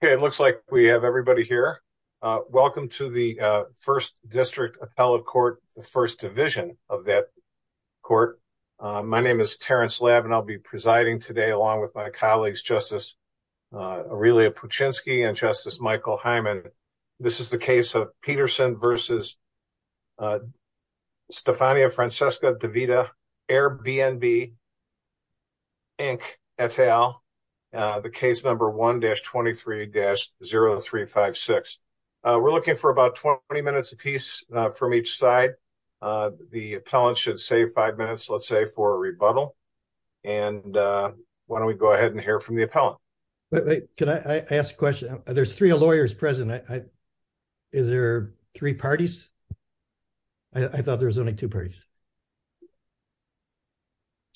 It looks like we have everybody here. Uh, welcome to the, uh, first district appellate court, the first division of that court. Uh, my name is Terrence Lab and I'll be presiding today along with my colleagues, justice, uh, Aurelia Puchinski and justice Michael Hyman. This is the case of Peterson versus, uh, Stefania Francesca Devita, Airbnb Inc et al, uh, the case number 1-23-0356. Uh, we're looking for about 20 minutes a piece, uh, from each side. Uh, the appellant should save five minutes, let's say for a rebuttal. And, uh, why don't we go ahead and hear from the appellant? Wait, wait, can I ask a question? There's three lawyers present. I, is there three parties? I thought there was only two parties.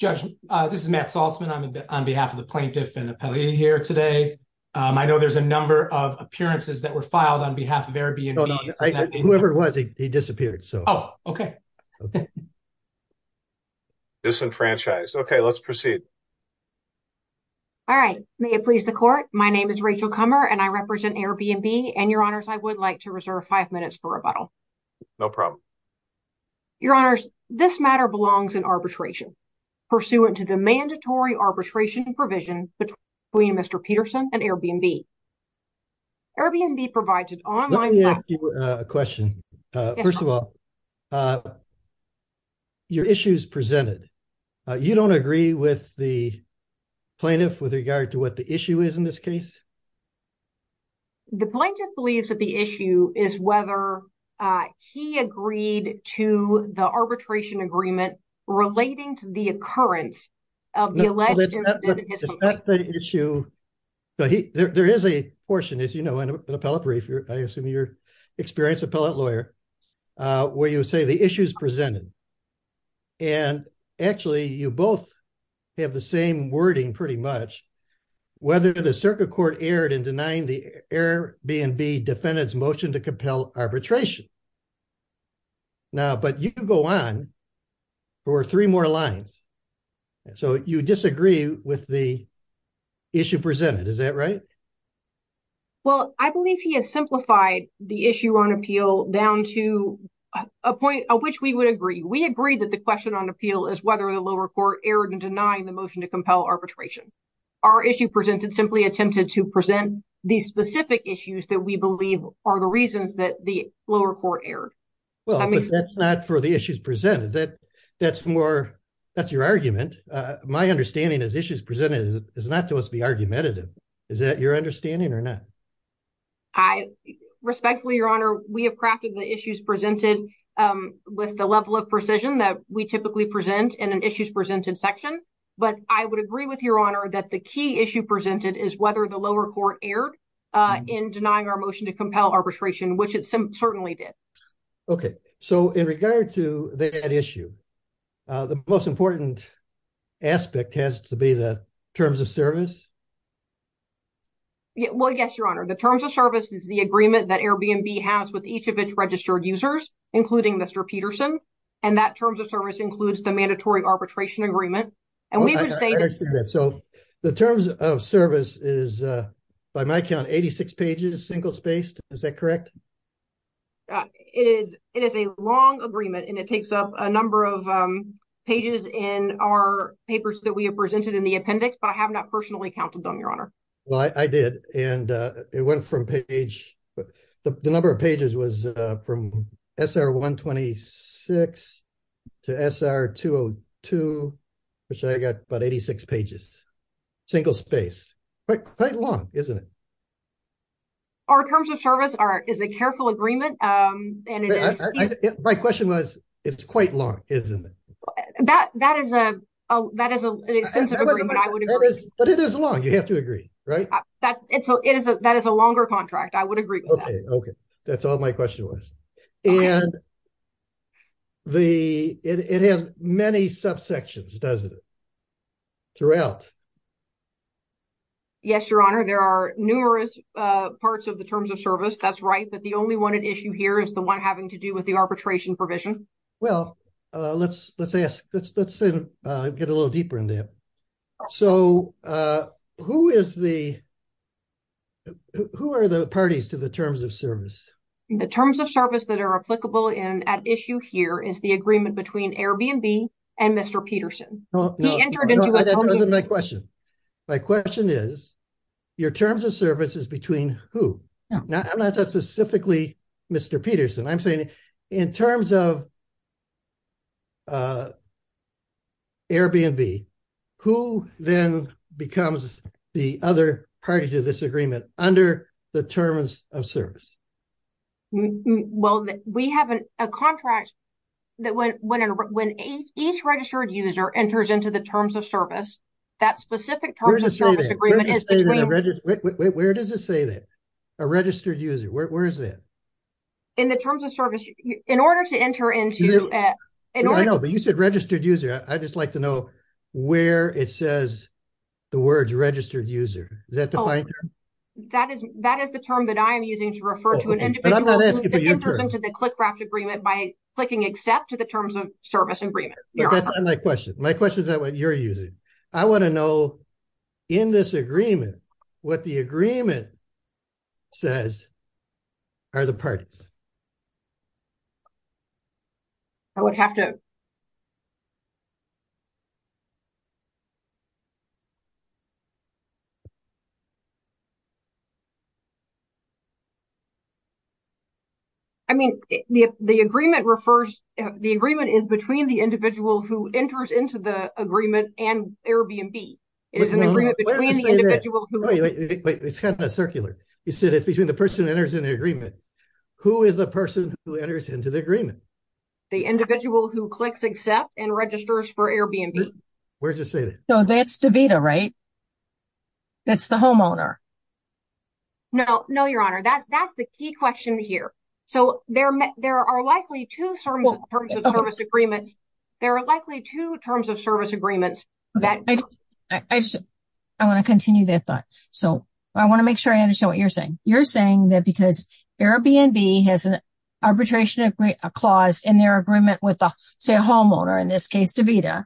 Judge, uh, this is Matt Saltzman. I'm on behalf of the plaintiff and the appellee here today. Um, I know there's a number of appearances that were filed on behalf of Airbnb. Whoever it was, he, he disappeared. So, oh, okay. Disenfranchised. Okay. Let's proceed. All right. May it please the court. My name is Rachel Kummer and I represent Airbnb and your honors, I would like to reserve five minutes for rebuttal. No problem. Your honors, this matter belongs in arbitration pursuant to the mandatory arbitration provision between Mr. Peterson and Airbnb. Airbnb provides an online. Let me ask you a question. Uh, first of all, uh, your issues presented, uh, you don't agree with the plaintiff with regard to what the issue is in this case, the plaintiff believes that the issue is whether, uh, he agreed to the arbitration agreement relating to the occurrence of the alleged issue. But he, there, there is a portion, as you know, in an appellate brief, I assume you're experienced appellate lawyer, uh, where you would say the issues presented. And actually you both have the same wording pretty much whether the circuit aired and denying the Airbnb defendants motion to compel arbitration. Now, but you can go on for three more lines. So you disagree with the issue presented. Is that right? Well, I believe he has simplified the issue on appeal down to a point of which we would agree. We agree that the question on appeal is whether the lower court aired and denying the motion to compel arbitration. Our issue presented simply attempted to present these specific issues that we believe are the reasons that the lower court aired, that's not for the issues presented, that that's more, that's your argument. Uh, my understanding is issues presented is not to us be argumentative. Is that your understanding or not? I respectfully, your honor, we have crafted the issues presented, um, with the level of precision that we typically present in an issues presented section. But I would agree with your honor that the key issue presented is whether the lower court aired, uh, in denying our motion to compel arbitration, which it certainly did. Okay. So in regard to that issue, uh, the most important aspect has to be the terms of service. Yeah, well, yes, your honor. The terms of service is the agreement that Airbnb has with each of its registered users, including Mr. Peterson. And that terms of service includes the mandatory arbitration agreement. And we were saying that. So the terms of service is, uh, by my count, 86 pages, single spaced, is that correct? Uh, it is, it is a long agreement and it takes up a number of, um, pages in our papers that we have presented in the appendix, but I have not personally counseled them, your honor. Well, I, I did. And, uh, it went from page, the number of pages was, uh, from SR 126 to SR 202, which I got about 86 pages, single space, but quite long, isn't it? Our terms of service are, is a careful agreement. Um, and it is, my question was, it's quite long, isn't it? That, that is a, that is an extensive agreement. I would agree, but it is long. You have to agree, right? That it's a, it is a, that is a longer contract. I would agree. Okay. That's all my question was. And the, it has many subsections, doesn't it? Throughout. Yes, your honor. There are numerous, uh, parts of the terms of service. That's right. But the only one at issue here is the one having to do with the arbitration provision. Well, uh, let's, let's ask, let's, let's, uh, get a little deeper in there. So, uh, who is the, who are the parties to the terms of service? The terms of service that are applicable in at issue here is the agreement between Airbnb and Mr. Peterson. He entered into my question. My question is your terms of services between who now I'm not that specifically Mr. Peterson, I'm saying in terms of. Uh, Airbnb, who then becomes the other party to this agreement under the terms of service? Well, we have an, a contract that when, when, when a, each registered user enters into the terms of service, that specific terms of service agreement. Where does it say that a registered user? Where, where is that? In the terms of service, in order to enter into, uh, I know, but you said registered user. I just like to know where it says the words registered user. Is that the fine? That is, that is the term that I am using to refer to an individual to the Clickraft agreement by clicking, except to the terms of service agreement. My question, my question is that what you're using, I want to know in this agreement, what the agreement says are the parties I would have to. I mean, the, the agreement refers, the agreement is between the individual who enters into the agreement and Airbnb is an agreement between the individual. It's kind of a circular, you said it's between the person that enters in the agreement, who is the person who enters into the agreement, the individual who clicks, except and registers for Airbnb. Where does it say that? No, that's DeVita, right? That's the homeowner. No, no, your honor. That's, that's the key question here. So there, there are likely two terms of service agreements. There are likely two terms of service agreements that I want to continue that thought, so I want to make sure I understand what you're saying. You're saying that because Airbnb has an arbitration, a clause in their agreement with the homeowner, in this case, DeVita,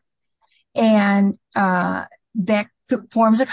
and, uh, that forms a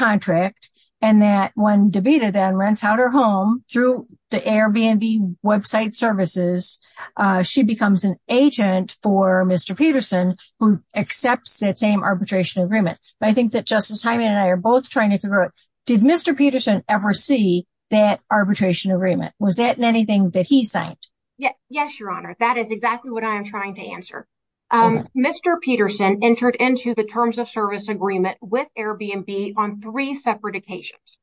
DeVita then rents out her home through the Airbnb website services. Uh, she becomes an agent for Mr. Peterson who accepts that same arbitration agreement. I think that Justice Hyman and I are both trying to figure out, did Mr. Peterson ever see that arbitration agreement? Was that in anything that he signed? Yeah. Yes, your honor. That is exactly what I am trying to answer. Um, Mr. Peterson entered into the terms of service agreement with Airbnb on three separate occasions.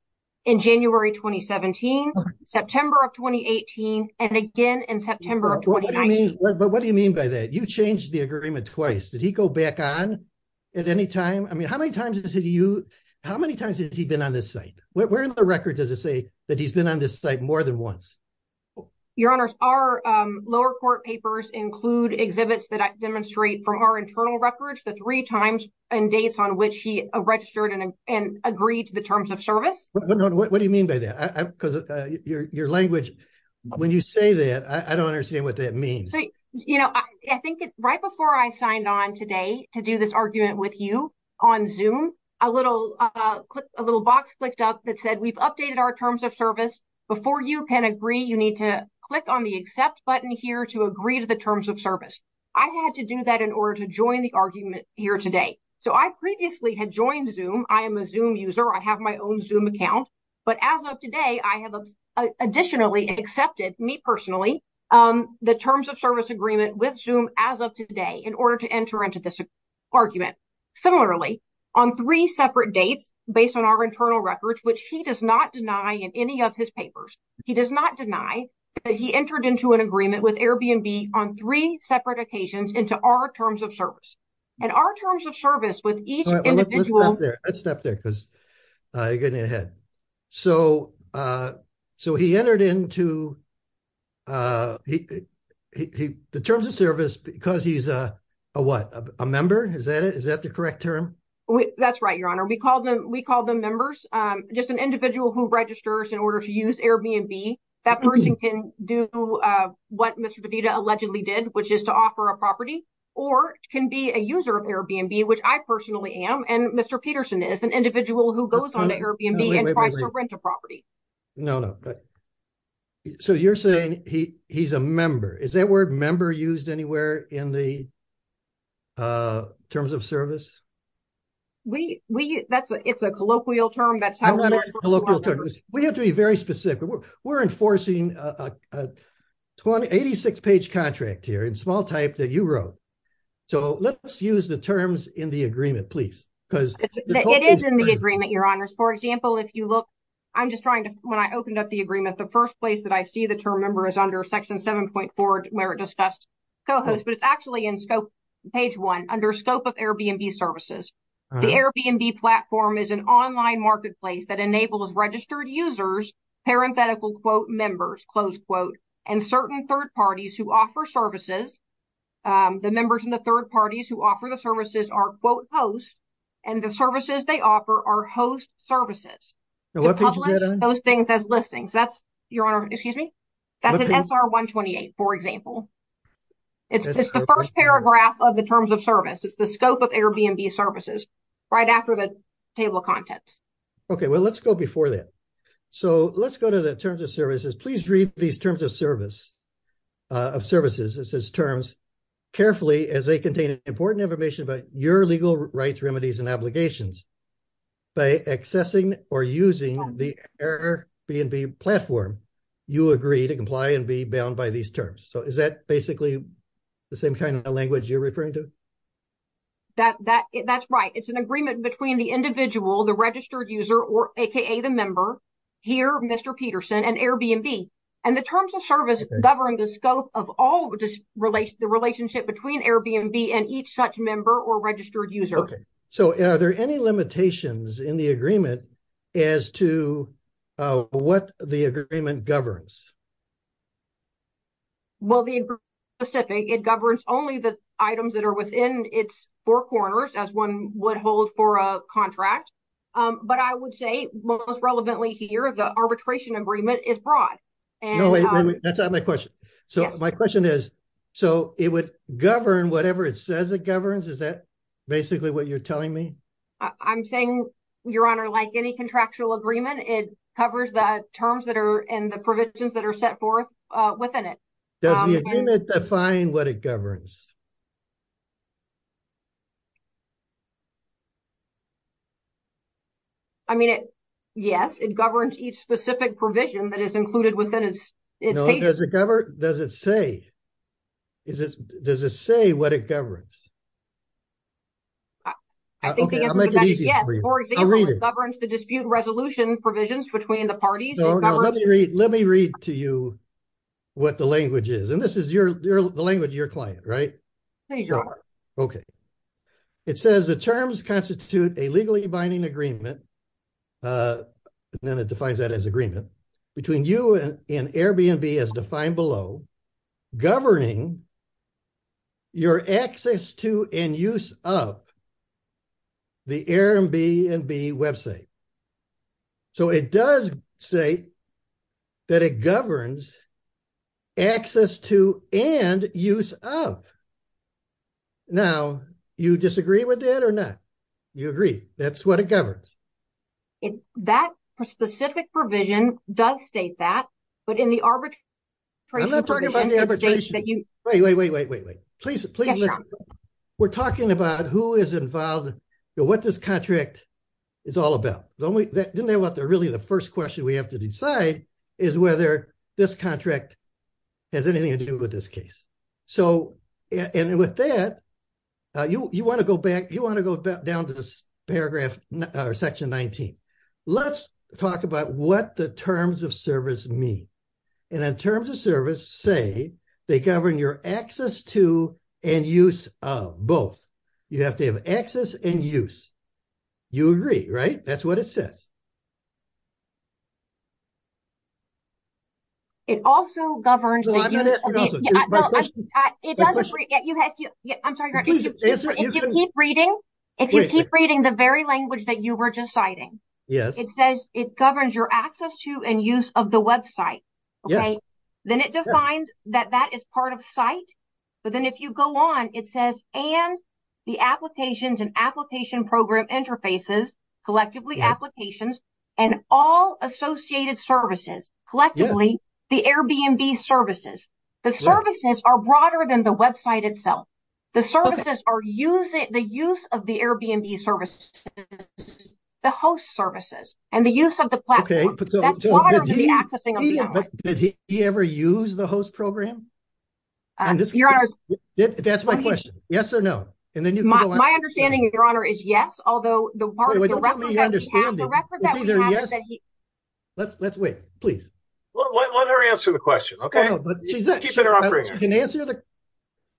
In January, 2017, September of 2018. And again, in September of 2019, but what do you mean by that? You changed the agreement twice. Did he go back on at any time? I mean, how many times has he, you, how many times has he been on this site? Where in the record does it say that he's been on this site more than once? Your honors are, um, lower court papers include exhibits that demonstrate from our internal records, the three times and dates on which he registered and agreed to the terms of service. What do you mean by that? Cause your, your language, when you say that, I don't understand what that means. You know, I think it's right before I signed on today to do this argument with you on zoom, a little, uh, a little box clicked up that said, we've updated our terms of service before you can agree. You need to click on the accept button here to agree to the terms of service. I had to do that in order to join the argument here today. So I previously had joined zoom. I am a zoom user. I have my own zoom account, but as of today, I have additionally accepted me personally, um, the terms of service agreement with zoom as of today in order to enter into this argument. Similarly on three separate dates based on our internal records, which he does not deny in any of his papers, he does not deny that he entered into an agreement with Airbnb on three separate occasions into our terms of service. And our terms of service with each individual step there. Cause, uh, you're getting ahead. So, uh, so he entered into, uh, he, he, he, the terms of service because he's a, a, what a member. Is that it? Is that the correct term? That's right. Your honor. We called them, we called them members. Um, just an individual who registers in order to use Airbnb. That person can do, uh, what Mr. Allegedly did, which is to offer a property or can be a user of Airbnb, which I personally am. And Mr. Peterson is an individual who goes on to Airbnb and tries to rent a property. No, no. So you're saying he, he's a member. Is that word member used anywhere in the, uh, terms of service? We, we, that's a, it's a colloquial term. That's how we have to be very specific. We're enforcing a 20, 86 page contract here in small type that you wrote. So let's use the terms in the agreement, please, because it is in the agreement, your honors. For example, if you look, I'm just trying to, when I opened up the agreement, the first place that I see the term member is under section 7.4, where it discussed cohost, but it's actually in scope page one under scope of Airbnb services, the Airbnb platform is an online marketplace that enables registered users, parenthetical quote members, close quote, and certain third parties who offer services. Um, the members in the third parties who offer the services are quote posts and the services they offer our host services, those things as listings. That's your honor. Excuse me. That's an SR 1 28. For example, it's the first paragraph of the terms of service. It's the scope of Airbnb services right after the table of contents. Okay. Well, let's go before that. So let's go to the terms of services. Please read these terms of service, uh, of services. It says terms carefully as they contain important information about your legal rights, remedies, and obligations by accessing or using the Airbnb platform. You agree to comply and be bound by these terms. So is that basically the same kind of language you're referring to? That, that that's right. It's an agreement between the individual, the registered user or AKA the member. Here, Mr. Peterson and Airbnb. And the terms of service govern the scope of all just relates to the relationship between Airbnb and each such member or registered user. So are there any limitations in the agreement as to, uh, what the agreement governs, well, the specific, it governs only the items that are within its four corners as one would hold for a contract. Um, but I would say most relevantly here, the arbitration agreement is broad. And that's not my question. So my question is, so it would govern whatever it says it governs. Is that basically what you're telling me? I'm saying your honor, like any contractual agreement, it covers the terms that are in the provisions that are set forth, uh, within it. Does the agreement define what it governs? I mean, it, yes. It governs each specific provision that is included within it. It doesn't cover it. Does it say, is it, does it say what it governs? I think it governs the dispute resolution provisions between the parties. Let me read to you what the language is. And this is your, your language, your client, right? Okay. It says the terms constitute a legally binding agreement. Uh, and then it defines that as agreement between you and Airbnb as defined below governing your access to and use of the Airbnb website. So it does say that it governs access to and use of. Now you disagree with that or not? You agree. That's what it governs. It, that specific provision does state that, but in the arbitrage, I'm not talking about the arbitration that you wait, wait, wait, wait, wait, wait, wait, please, please. We're talking about who is involved, what this contract is all about. Don't we didn't know what the really, the first question we have to decide is whether this contract has anything to do with this case. So, and with that, uh, you, you want to go back, you want to go back down to this paragraph or section 19, let's talk about what the terms of service mean. And in terms of service, say they govern your access to and use of both. You have to have access and use. You agree, right? That's what it says. It also governs, I'm sorry, if you keep reading, if you keep reading the very language that you were just citing, it says it governs your access to and use of the website, then it defines that that is part of site, but then if you go on, it says, and the applications and application program interfaces, collectively applications, and all associated services, collectively, the Airbnb services, the services are broader than the website itself. The services are using the use of the Airbnb services, the host services and the use of the platform. You ever use the host program? That's my question. Yes or no. And then my understanding of your honor is yes. Although the part of the record that we have, the record that we have is that he. Let's let's wait, please. Well, let her answer the question. Okay. No, but she's not keeping her operator. You can answer the.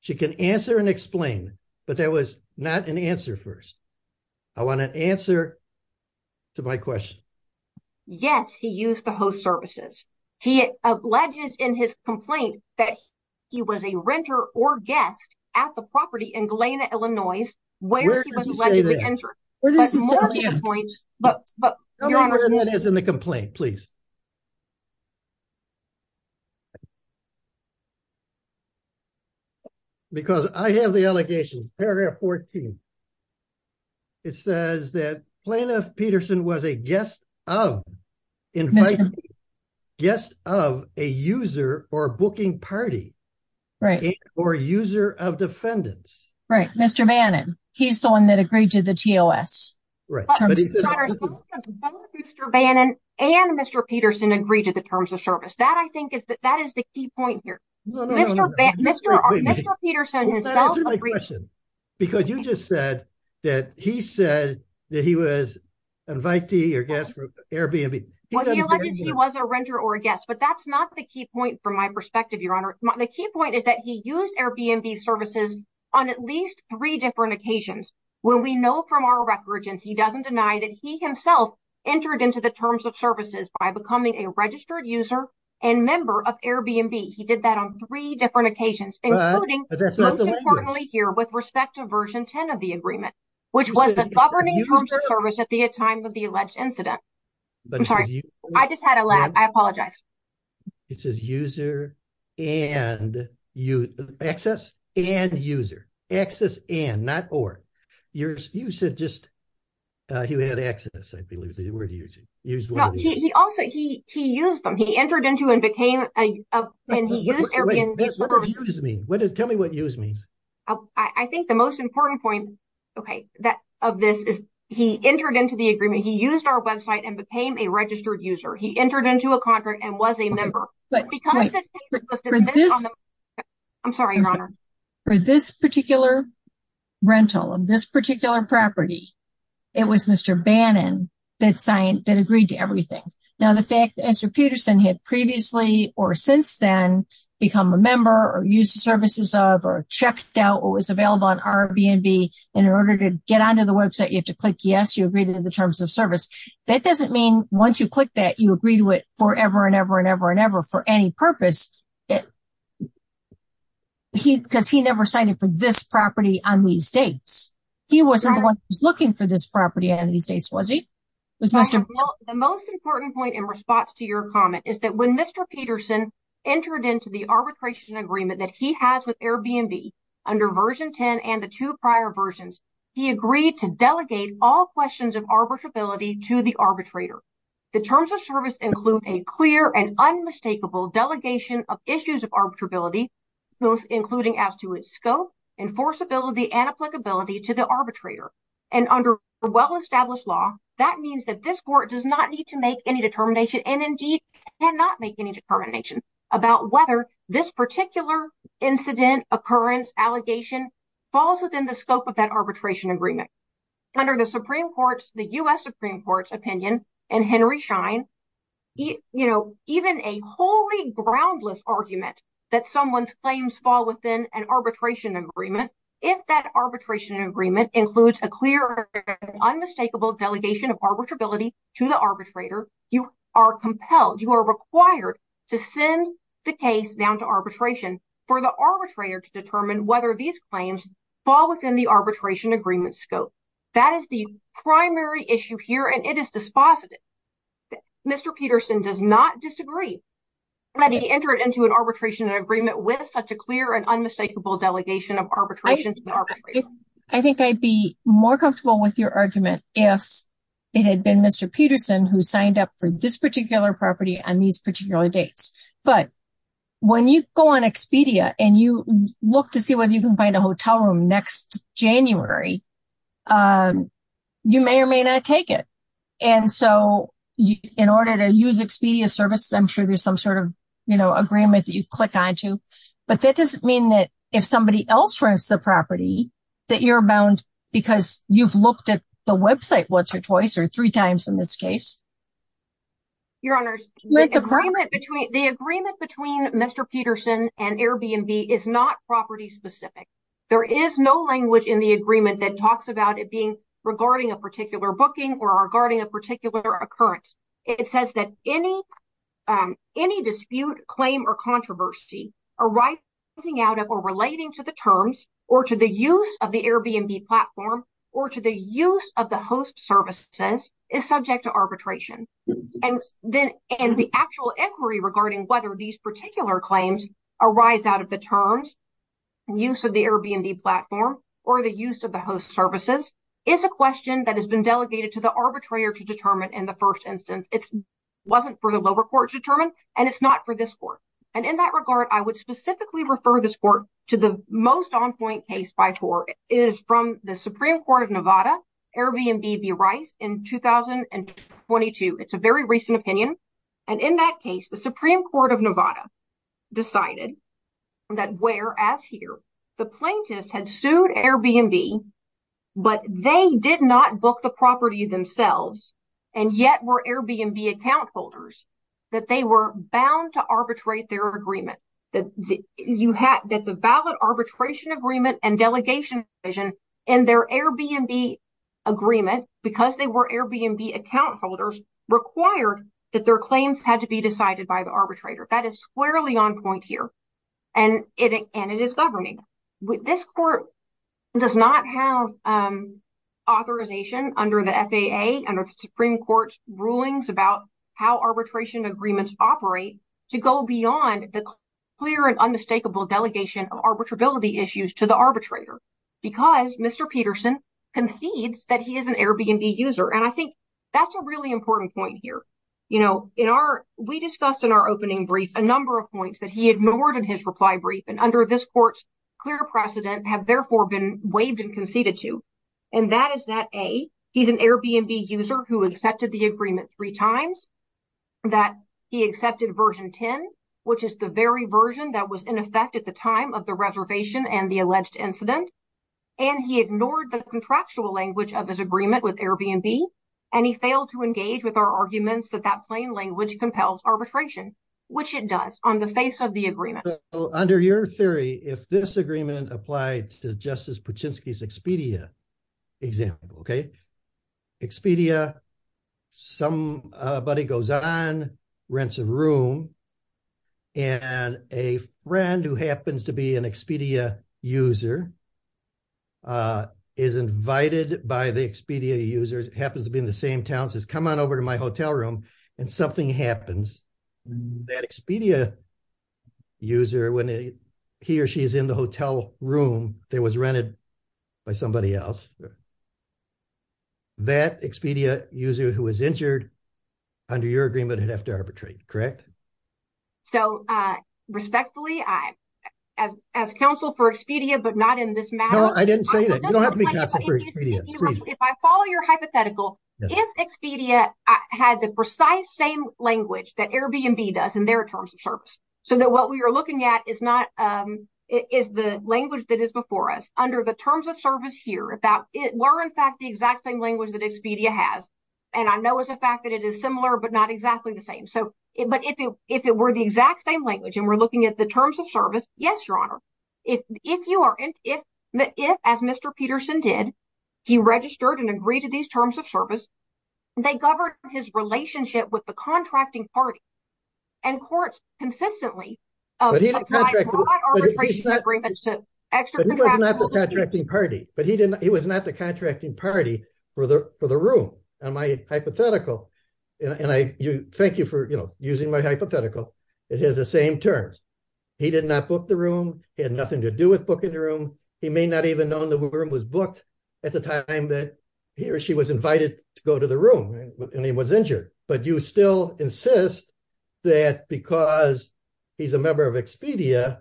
She can answer and explain, but that was not an answer first. I want an answer to my question. Yes. He used the host services. He alleges in his complaint that he was a renter or guest at the property in where this is in the complaint, please. Because I have the allegations, paragraph 14. It says that plaintiff Peterson was a guest of inviting guests of a user or booking party or user of defendants, right? Mr. He's the one that agreed to the TOS. Right. Mr. Bannon and Mr. Peterson agreed to the terms of service. That I think is that that is the key point here. Mr. Mr. Peterson. Because you just said that he said that he was invite the guests for Airbnb. He was a renter or a guest, but that's not the key point from my perspective. The key point is that he used Airbnb services on at least three different occasions where we know from our records and he doesn't deny that he himself entered into the terms of services by becoming a registered user and member of Airbnb. He did that on three different occasions, including importantly here with respect to version 10 of the agreement, which was the governing terms of service at I just had a lab. I apologize. It says user and you access and user access and not, or yours. You said just, uh, he had access. I believe it was a word. He used it. He also, he, he used them. He entered into and became, uh, and he used Airbnb services. What does, tell me what use means. I think the most important point. Okay. That of this is he entered into the agreement. He used our website and became a registered user. He entered into a contract and was a member, but I'm sorry. For this particular rental of this particular property, it was Mr. Bannon that signed, that agreed to everything. Now, the fact that Esther Peterson had previously, or since then become a member or use the services of, or checked out what was available on Airbnb in order to get onto the website, you have to click yes, you agreed to the terms of service. That doesn't mean once you click that, you agree to it forever and ever and ever and ever for any purpose that he, because he never signed up for this property on these dates, he wasn't the one who's looking for this property. And these days was he was Mr. The most important point in response to your comment is that when Mr. Peterson entered into the arbitration agreement that he has with Airbnb under version 10 and the two prior versions, he agreed to delegate all questions of arbitrability to the arbitrator. The terms of service include a clear and unmistakable delegation of issues of arbitrability, including as to its scope, enforceability and applicability to the arbitrator. And under well-established law, that means that this court does not need to make any determination and indeed cannot make any determination about whether this particular incident occurrence allegation falls within the scope of that arbitration agreement. Under the Supreme Court's, the U.S. Supreme Court's opinion and Henry Schein, you know, even a wholly groundless argument that someone's claims fall within an arbitration agreement, if that arbitration agreement includes a clear, unmistakable delegation of arbitrability to the arbitrator, you are compelled, you are required to send the case down to arbitration for the arbitrator to determine whether these scope, that is the primary issue here. And it is dispositive. Mr. Peterson does not disagree that he entered into an arbitration agreement with such a clear and unmistakable delegation of arbitration to the arbitrator. I think I'd be more comfortable with your argument if it had been Mr. Peterson who signed up for this particular property on these particular dates. But when you go on Expedia and you look to see whether you can find a hotel room next January, you may or may not take it. And so in order to use Expedia services, I'm sure there's some sort of, you know, agreement that you click onto, but that doesn't mean that if somebody else runs the property, that you're bound because you've looked at the website once or twice or three times in this case. Your honors, the agreement between Mr. Peterson and Airbnb is not property specific. There is no language in the agreement that talks about it being regarding a particular booking or regarding a particular occurrence. It says that any dispute, claim or controversy arising out of or relating to the terms or to the use of the Airbnb platform or to the use of the host services is subject to arbitration. And the actual inquiry regarding whether these particular claims arise out of the terms, use of the Airbnb platform or the use of the host services is a question that has been delegated to the arbitrator to determine in the first instance. It wasn't for the lower court to determine and it's not for this court. And in that regard, I would specifically refer this court to the most on point case by TOR is from the Supreme Court of Nevada, Airbnb v. Rice in 2022. It's a very recent opinion. And in that case, the Supreme Court of Nevada decided that whereas here the plaintiffs had sued Airbnb, but they did not book the property themselves and yet were Airbnb account holders, that they were bound to arbitrate their agreement, that you had that the ballot arbitration agreement and delegation vision in their Airbnb agreement because they were Airbnb account holders required that their claims had to be decided by the arbitrator. That is squarely on point here. And it and it is governing with this court does not have authorization under the FAA and the Supreme Court's rulings about how arbitration agreements operate to go beyond the clear and unmistakable delegation of arbitrability issues to the concedes that he is an Airbnb user. And I think that's a really important point here. You know, in our we discussed in our opening brief a number of points that he ignored in his reply brief and under this court's clear precedent have therefore been waived and conceded to. And that is that a he's an Airbnb user who accepted the agreement three times that he accepted version 10, which is the very version that was in effect at the time of the reservation and the alleged incident. And he ignored the contractual language of his agreement with Airbnb, and he failed to engage with our arguments that that plain language compels arbitration, which it does on the face of the agreement. Under your theory, if this agreement applied to Justice Pachinksi's Expedia example, OK, Expedia, somebody goes on, rents a room and a friend who happens to be an is invited by the Expedia users, happens to be in the same town, says, come on over to my hotel room and something happens that Expedia user when he or she is in the hotel room that was rented by somebody else. That Expedia user who was injured under your agreement had to arbitrate, correct? So respectfully, I as as counsel for Expedia, but not in this matter, I didn't say that you don't have to be counsel for Expedia. If I follow your hypothetical, if Expedia had the precise same language that Airbnb does in their terms of service so that what we are looking at is not is the language that is before us under the terms of service here about it were, in fact, the exact same language that Expedia has. And I know as a fact that it is similar, but not exactly the same. So but if if it were the exact same language and we're looking at the terms of service, yes, your honor, if if you are if if as Mr. Peterson did, he registered and agreed to these terms of service, they governed his relationship with the contracting party and courts consistently. But he doesn't contract agreements to extra contracting party, but he didn't he was not the contracting party for the for the room. And my hypothetical and I thank you for using my hypothetical, it has the same terms. He did not book the room. He had nothing to do with booking the room. He may not even know the room was booked at the time that he or she was invited to go to the room and he was injured. But you still insist that because he's a member of Expedia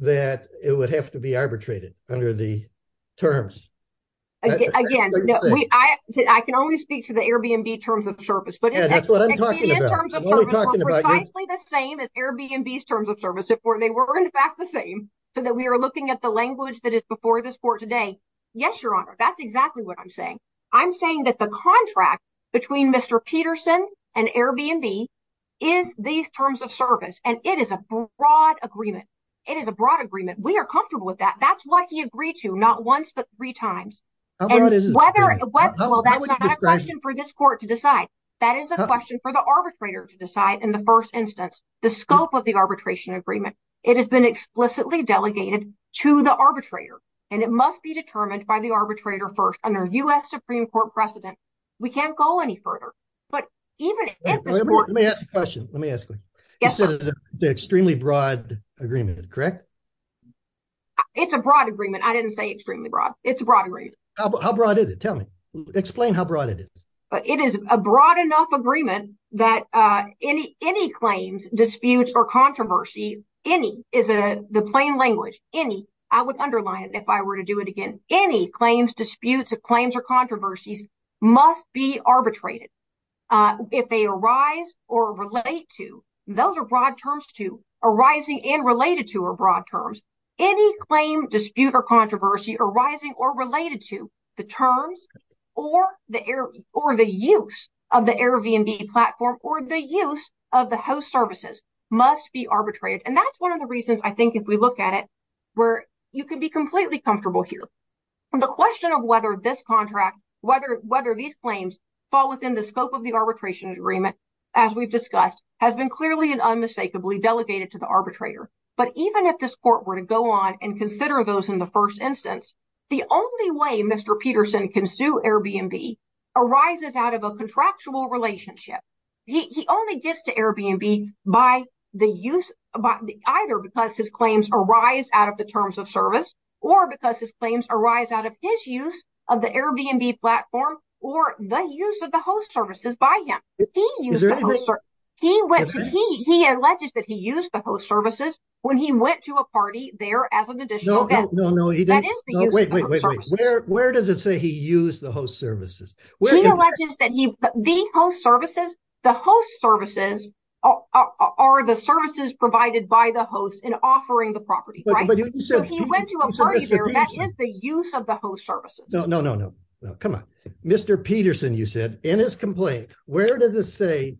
that it would have to be arbitrated under the terms. Again, I can only speak to the Airbnb terms of service, but that's what I'm talking about. I'm talking about precisely the same as Airbnb's terms of service, if they were, in fact, the same so that we are looking at the language that is before this court today. Yes, your honor. That's exactly what I'm saying. I'm saying that the contract between Mr. Peterson and Airbnb is these terms of service. And it is a broad agreement. It is a broad agreement. We are comfortable with that. That's what he agreed to. Not once, but three times. And whether that's not a question for this court to decide, that is a question for the arbitrator to decide. In the first instance, the scope of the arbitration agreement, it has been explicitly delegated to the arbitrator and it must be determined by the arbitrator first under U.S. Supreme Court precedent. We can't go any further. But even if we ask the question, let me ask you the extremely broad agreement, correct? It's a broad agreement. I didn't say extremely broad. It's a broad agreement. How broad is it? Tell me. Explain how broad it is. It is a broad enough agreement that any claims, disputes or controversy, any is the plain language, any, I would underline it if I were to do it again, any claims, disputes of claims or controversies must be arbitrated if they arise or relate to those are broad terms to arising and related to or broad terms. Any claim, dispute or controversy arising or related to the terms or the air or the use of the Airbnb platform or the use of the host services must be arbitrated. And that's one of the reasons I think if we look at it where you can be completely comfortable here, the question of whether this contract, whether whether these claims fall within the scope of the arbitration agreement, as we've discussed, has been clearly and unmistakably delegated to the arbitrator. But even if this court were to go on and consider those in the first instance, the only way Mr. Peterson can sue Airbnb arises out of a contractual relationship. He only gets to Airbnb by the use of either because his claims arise out of the terms of service or because his claims arise out of his use of the Airbnb platform or the use of the host services by him. He is he he he alleges that he used the host services when he went to a party there as an additional. No, no, no. He didn't. Wait, wait, wait, wait. Where does it say he used the host services? Well, he alleges that he the host services, the host services are the services provided by the host in offering the property. Right. But he said he went to a party there. That is the use of the host services. No, no, no, no. Come on, Mr. Peterson, you said in his complaint, where does this say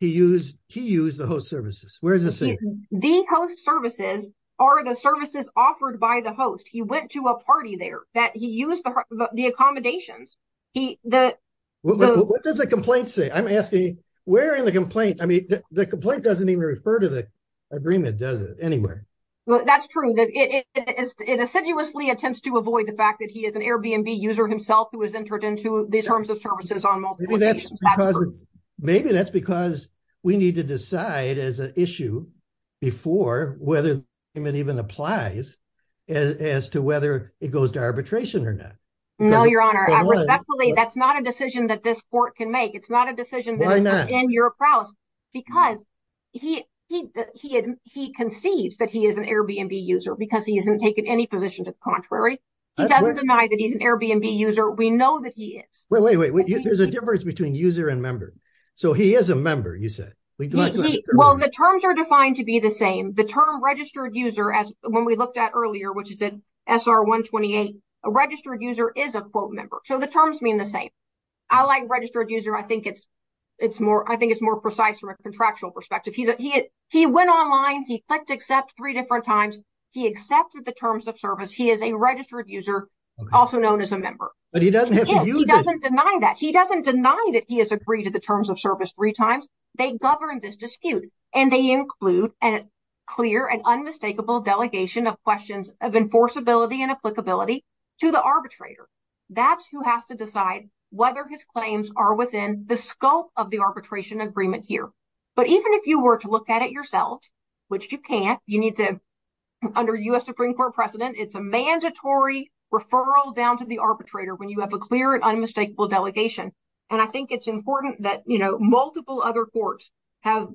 he used he used the host services? Where is this? The host services are the services offered by the host. He went to a party there that he used the accommodations. He the. What does the complaint say? I'm asking where in the complaint? I mean, the complaint doesn't even refer to the agreement, does it? Anyway, that's true. That is it assiduously attempts to avoid the fact that he is an Airbnb user himself who has entered into these terms of services on multiple occasions. Maybe that's because we need to decide as an issue before whether it even applies as to whether it goes to arbitration or not. No, Your Honor, respectfully, that's not a decision that this court can make. It's not a decision in your house because he he he concedes that he is an Airbnb user because he isn't taking any position to the contrary. He doesn't deny that he's an Airbnb user. We know that he is. Well, wait, wait, wait. There's a difference between user and member. So he is a member, you said. Well, the terms are defined to be the same. The term registered user, as when we looked at earlier, which is SR 128, a registered user is a quote member. So the terms mean the same. I like registered user. I think it's it's more I think it's more precise from a contractual perspective. He's he he went online. He clicked accept three different times. He accepted the terms of service. He is a registered user, also known as a member. But he doesn't have to deny that he doesn't deny that he has agreed to the terms of service three times. They govern this dispute and they include a clear and unmistakable delegation of questions of enforceability and applicability to the arbitrator. That's who has to decide whether his claims are within the scope of the arbitration agreement here. But even if you were to look at it yourself, which you can't, you need to under U.S. Supreme Court precedent. It's a mandatory referral down to the arbitrator when you have a clear and unmistakable delegation. And I think it's important that, you know, multiple other courts have.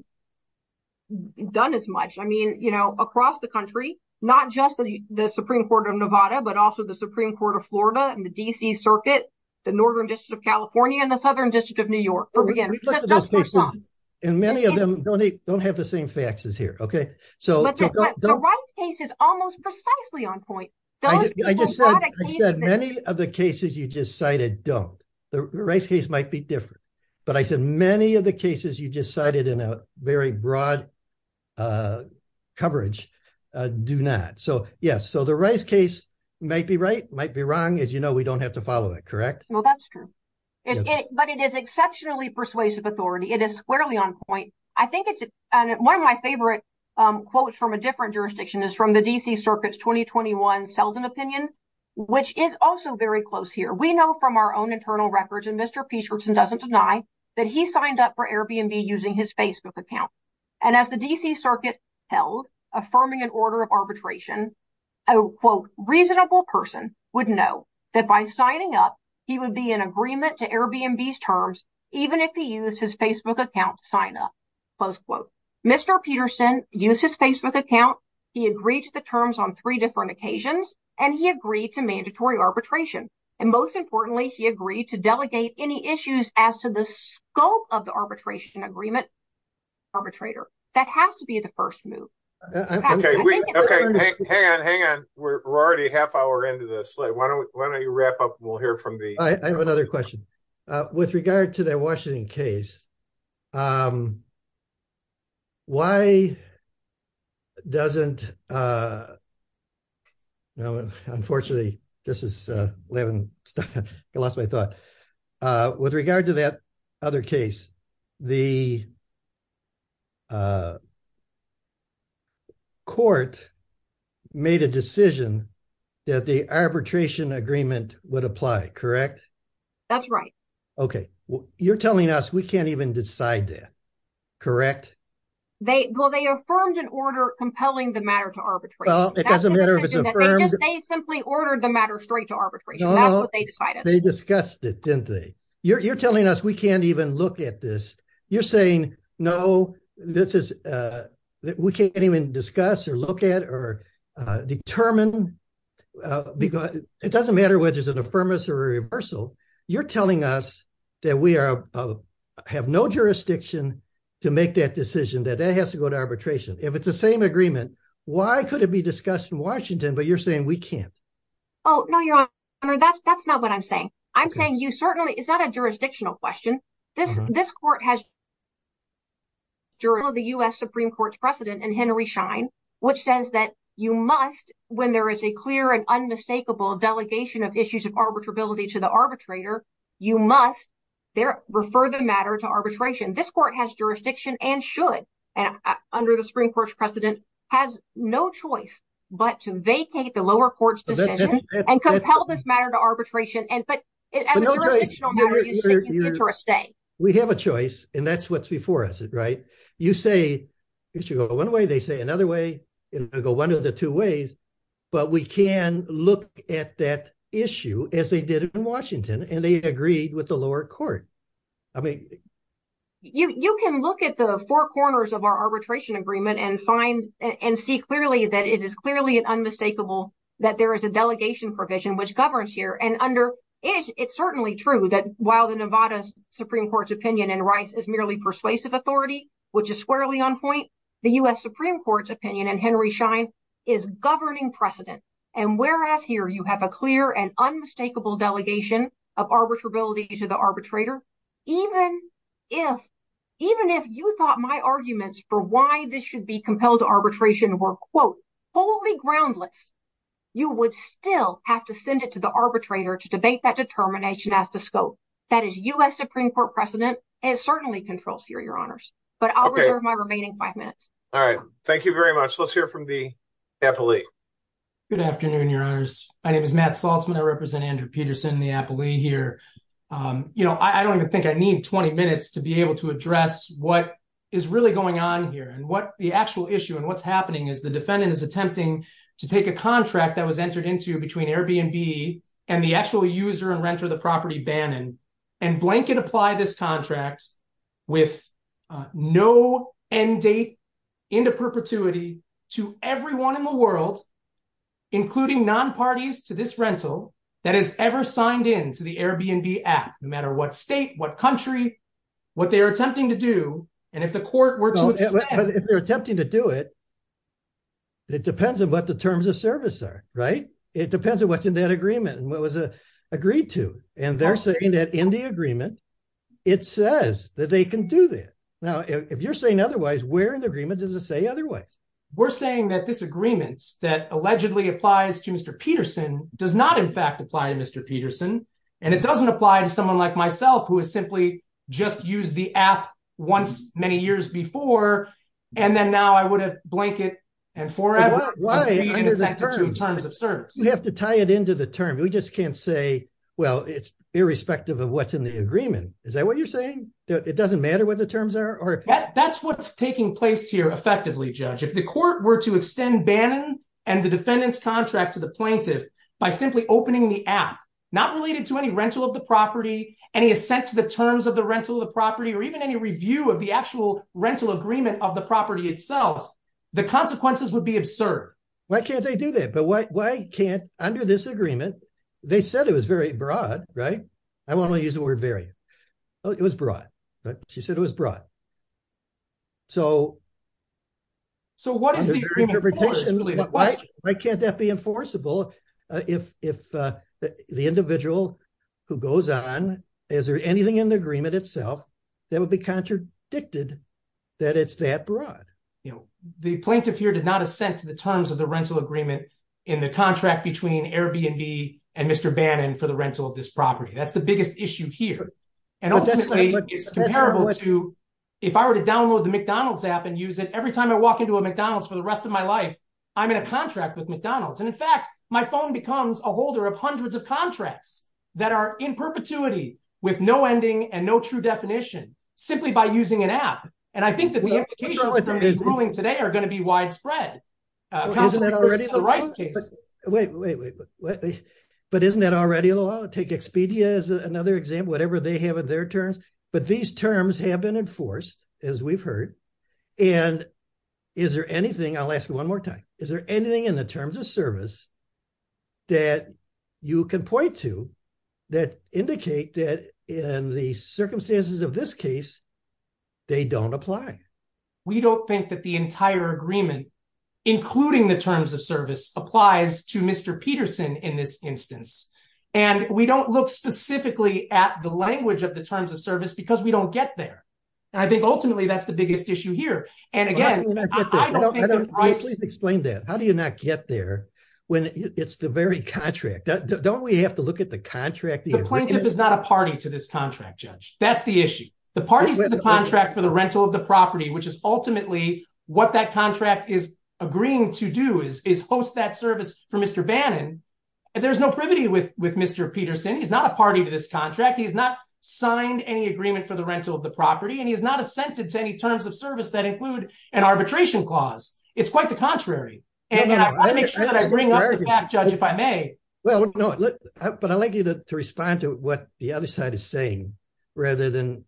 Done as much, I mean, you know, across the country, not just the Supreme Court of Nevada, but also the Supreme Court of Florida and the D.C. Circuit, the Northern District of California and the Southern District of New York. And many of them don't don't have the same faxes here. OK, so the right case is almost precisely on point. I just said many of the cases you just cited don't. The race case might be different. But I said many of the cases you just cited in a very broad coverage do not. So, yes. So the race case might be right, might be wrong. As you know, we don't have to follow it, correct? Well, that's true. But it is exceptionally persuasive authority. It is squarely on point. I think it's one of my favorite quotes from a different jurisdiction is from the D.C. Circuit's 2021 Selden opinion, which is also very close here. We know from our own internal records and Mr. Peterson doesn't deny that he signed up for Airbnb using his Facebook account. And as the D.C. Circuit held, affirming an order of arbitration, a quote, reasonable person would know that by signing up, he would be in agreement to Airbnb's terms, even if he used his Facebook account sign up. Close quote. Mr. Peterson used his Facebook account. He agreed to the terms on three different occasions and he agreed to mandatory arbitration. And most importantly, he agreed to delegate any issues as to the scope of the arbitration agreement arbitrator. That has to be the first move. OK, hang on, hang on. We're already half hour into this. Why don't why don't you wrap up? We'll hear from me. I have another question with regard to the Washington case. Why. Doesn't. No, unfortunately, this is 11. I lost my thought with regard to that other case, the. Court made a decision that the arbitration agreement would apply, correct? That's right. OK, well, you're telling us we can't even decide that. Correct. They will. They affirmed an order compelling the matter to arbitrate. Well, it doesn't matter if it's a firm. They simply ordered the matter straight to arbitration. That's what they decided. They discussed it, didn't they? You're telling us we can't even look at this. You're saying, no, this is that we can't even discuss or look at or determine because it doesn't matter whether it's an affirmation or reversal. You're telling us that we are have no jurisdiction to make that decision, that that has to go to arbitration if it's the same agreement. Why could it be discussed in Washington? But you're saying we can't. Oh, no, you're right. That's that's not what I'm saying. I'm saying you certainly it's not a jurisdictional question. This this court has. During the U.S. Supreme Court's precedent and Henry Shine, which says that you must, when there is a clear and unmistakable delegation of issues of arbitrability to the arbitrator, you must there refer the matter to arbitration. This court has jurisdiction and should. And under the Supreme Court's precedent, has no choice but to vacate the lower court's decision and compel this matter to arbitration. And but as a jurisdictional matter, you're taking it to a stay. We have a choice. And that's what's before us. Right. You say it should go one way. They say another way to go one of the two ways. But we can look at that issue as they did in Washington and they agreed with the lower court. I mean, you can look at the four corners of our arbitration agreement and find and see clearly that it is clearly an unmistakable that there is a delegation provision which governs here. And under it, it's certainly true that while the Nevada Supreme Court's opinion and rights is merely persuasive authority, which is squarely on point, the U.S. Supreme Court's opinion and Henry Schein is governing precedent. And whereas here you have a clear and unmistakable delegation of arbitrability to the arbitrator, even if even if you thought my arguments for why this should be compelled to arbitration were, quote, wholly groundless, you would still have to send it to the arbitrator to debate that determination as to scope. That is U.S. Supreme Court precedent is certainly controls here, Your Honors. But I'll reserve my remaining five minutes. All right. Thank you very much. Let's hear from the appellee. Good afternoon, Your Honors. My name is Matt Saltzman. I represent Andrew Peterson, the appellee here. You know, I don't even think I need 20 minutes to be able to address what is really going on here and what the actual issue and what's happening is the defendant is attempting to take a contract that was entered into between Airbnb and the actual user and renter of the property, Bannon, and blanket apply this contract with no end date into perpetuity to everyone in the world, including non-parties to this rental that has ever signed in to the Airbnb app, no matter what state, what country, what they are attempting to do. And if the court were to. They're attempting to do it. It depends on what the terms of service are, right? It depends on what's in that agreement and what was agreed to. And they're saying that in the agreement, it says that they can do that. Now, if you're saying otherwise, we're in agreement. Does it say otherwise? We're saying that this agreement that allegedly applies to Mr. Peterson does not, in fact, apply to Mr. Peterson, and it doesn't apply to someone like myself who has simply just used the app once many years before. And then now I would have blanket and forever. Why is that two terms of service? You have to tie it into the term. We just can't say, well, it's irrespective of what's in the agreement. Is that what you're saying? It doesn't matter what the terms are. That's what's taking place here. Effectively, judge, if the court were to extend Bannon and the defendant's contract to the plaintiff by simply opening the app, not related to any rental of the property, any assent to the terms of the rental of the property or even any review of the actual rental agreement of the property itself, the consequences would be absurd. Why can't they do that? But why can't under this agreement? They said it was very broad, right? I want to use the word very. Oh, it was broad, but she said it was broad. So. So what is the interpretation? Why can't that be enforceable? If, if the individual who goes on, is there anything in the agreement itself that would be contradicted that it's that broad, you know, the plaintiff here did not assent to the terms of the rental agreement. In the contract between Airbnb and Mr. Bannon for the rental of this property. That's the biggest issue here. And ultimately it's comparable to. If I were to download the McDonald's app and use it, every time I walk into a McDonald's for the rest of my life, I'm in a contract with McDonald's. And in fact, my phone becomes a holder of hundreds of contracts that are in perpetuity with no ending and no true definition simply by using an app. And I think that the implications today are going to be widespread. Isn't that already the rice case? Wait, wait, wait, wait, but isn't that already a law? Take Expedia as another example, whatever they have in their terms, but these terms have been enforced as we've heard. And is there anything I'll ask you one more time. Is there anything in the terms of service that you can point to that indicate that in the circumstances of this case, they don't apply, we don't think that the including the terms of service applies to Mr. Peterson in this instance. And we don't look specifically at the language of the terms of service because we don't get there. And I think ultimately that's the biggest issue here. And again, I don't think that explain that. How do you not get there when it's the very contract that don't we have to look at the contract? The plaintiff is not a party to this contract judge. That's the issue. The parties of the contract for the rental of the property, which is agreeing to do is, is host that service for Mr. Bannon. There's no privity with, with Mr. Peterson. He's not a party to this contract. He's not signed any agreement for the rental of the property. And he has not assented to any terms of service that include an arbitration clause. It's quite the contrary. And I want to make sure that I bring up the fact judge, if I may. Well, no, but I like you to respond to what the other side is saying, rather than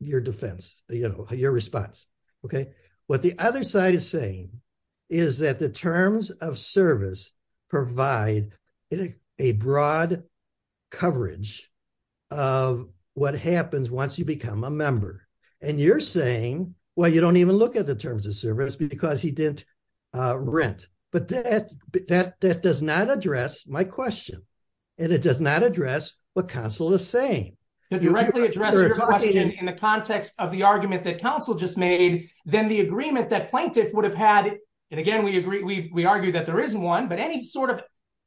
your defense, you know, your response. Okay. What the other side is saying is that the terms of service provide a broad coverage of what happens once you become a member and you're saying, well, you don't even look at the terms of service because he didn't rent, but that, that, that does not address my question. And it does not address what council is saying. To directly address your question in the context of the argument that council just made, then the agreement that plaintiff would have had. And again, we agree. We, we argue that there isn't one, but any sort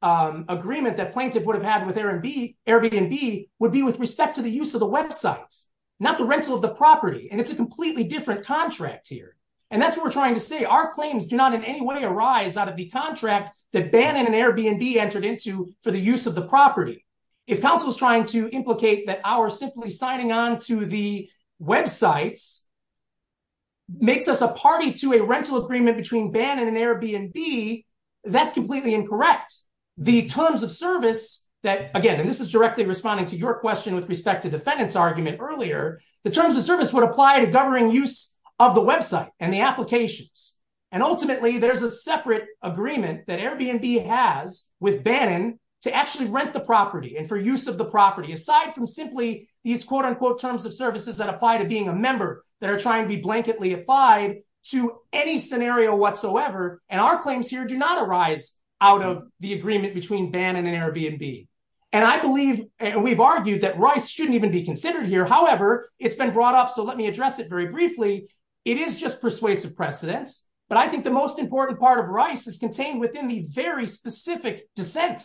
of agreement that plaintiff would have had with Airbnb Airbnb would be with respect to the use of the websites, not the rental of the property. And it's a completely different contract here. And that's what we're trying to say. Our claims do not in any way arise out of the contract that Bannon and Airbnb entered into for the use of the property. If council is trying to implicate that our simply signing on to the websites. Makes us a party to a rental agreement between Bannon and Airbnb. That's completely incorrect. The terms of service that again, and this is directly responding to your question with respect to defendants argument earlier, the terms of service would apply to governing use of the website and the applications. And ultimately there's a separate agreement that Airbnb has with Bannon to actually rent the property and for use of the property, aside from simply these quote unquote terms of services that apply to being a member that are trying to be blanketly applied to any scenario whatsoever. And our claims here do not arise out of the agreement between Bannon and Airbnb. And I believe we've argued that rice shouldn't even be considered here. However, it's been brought up. So let me address it very briefly. It is just persuasive precedents, but I think the most important part of rice is contained within the very specific dissent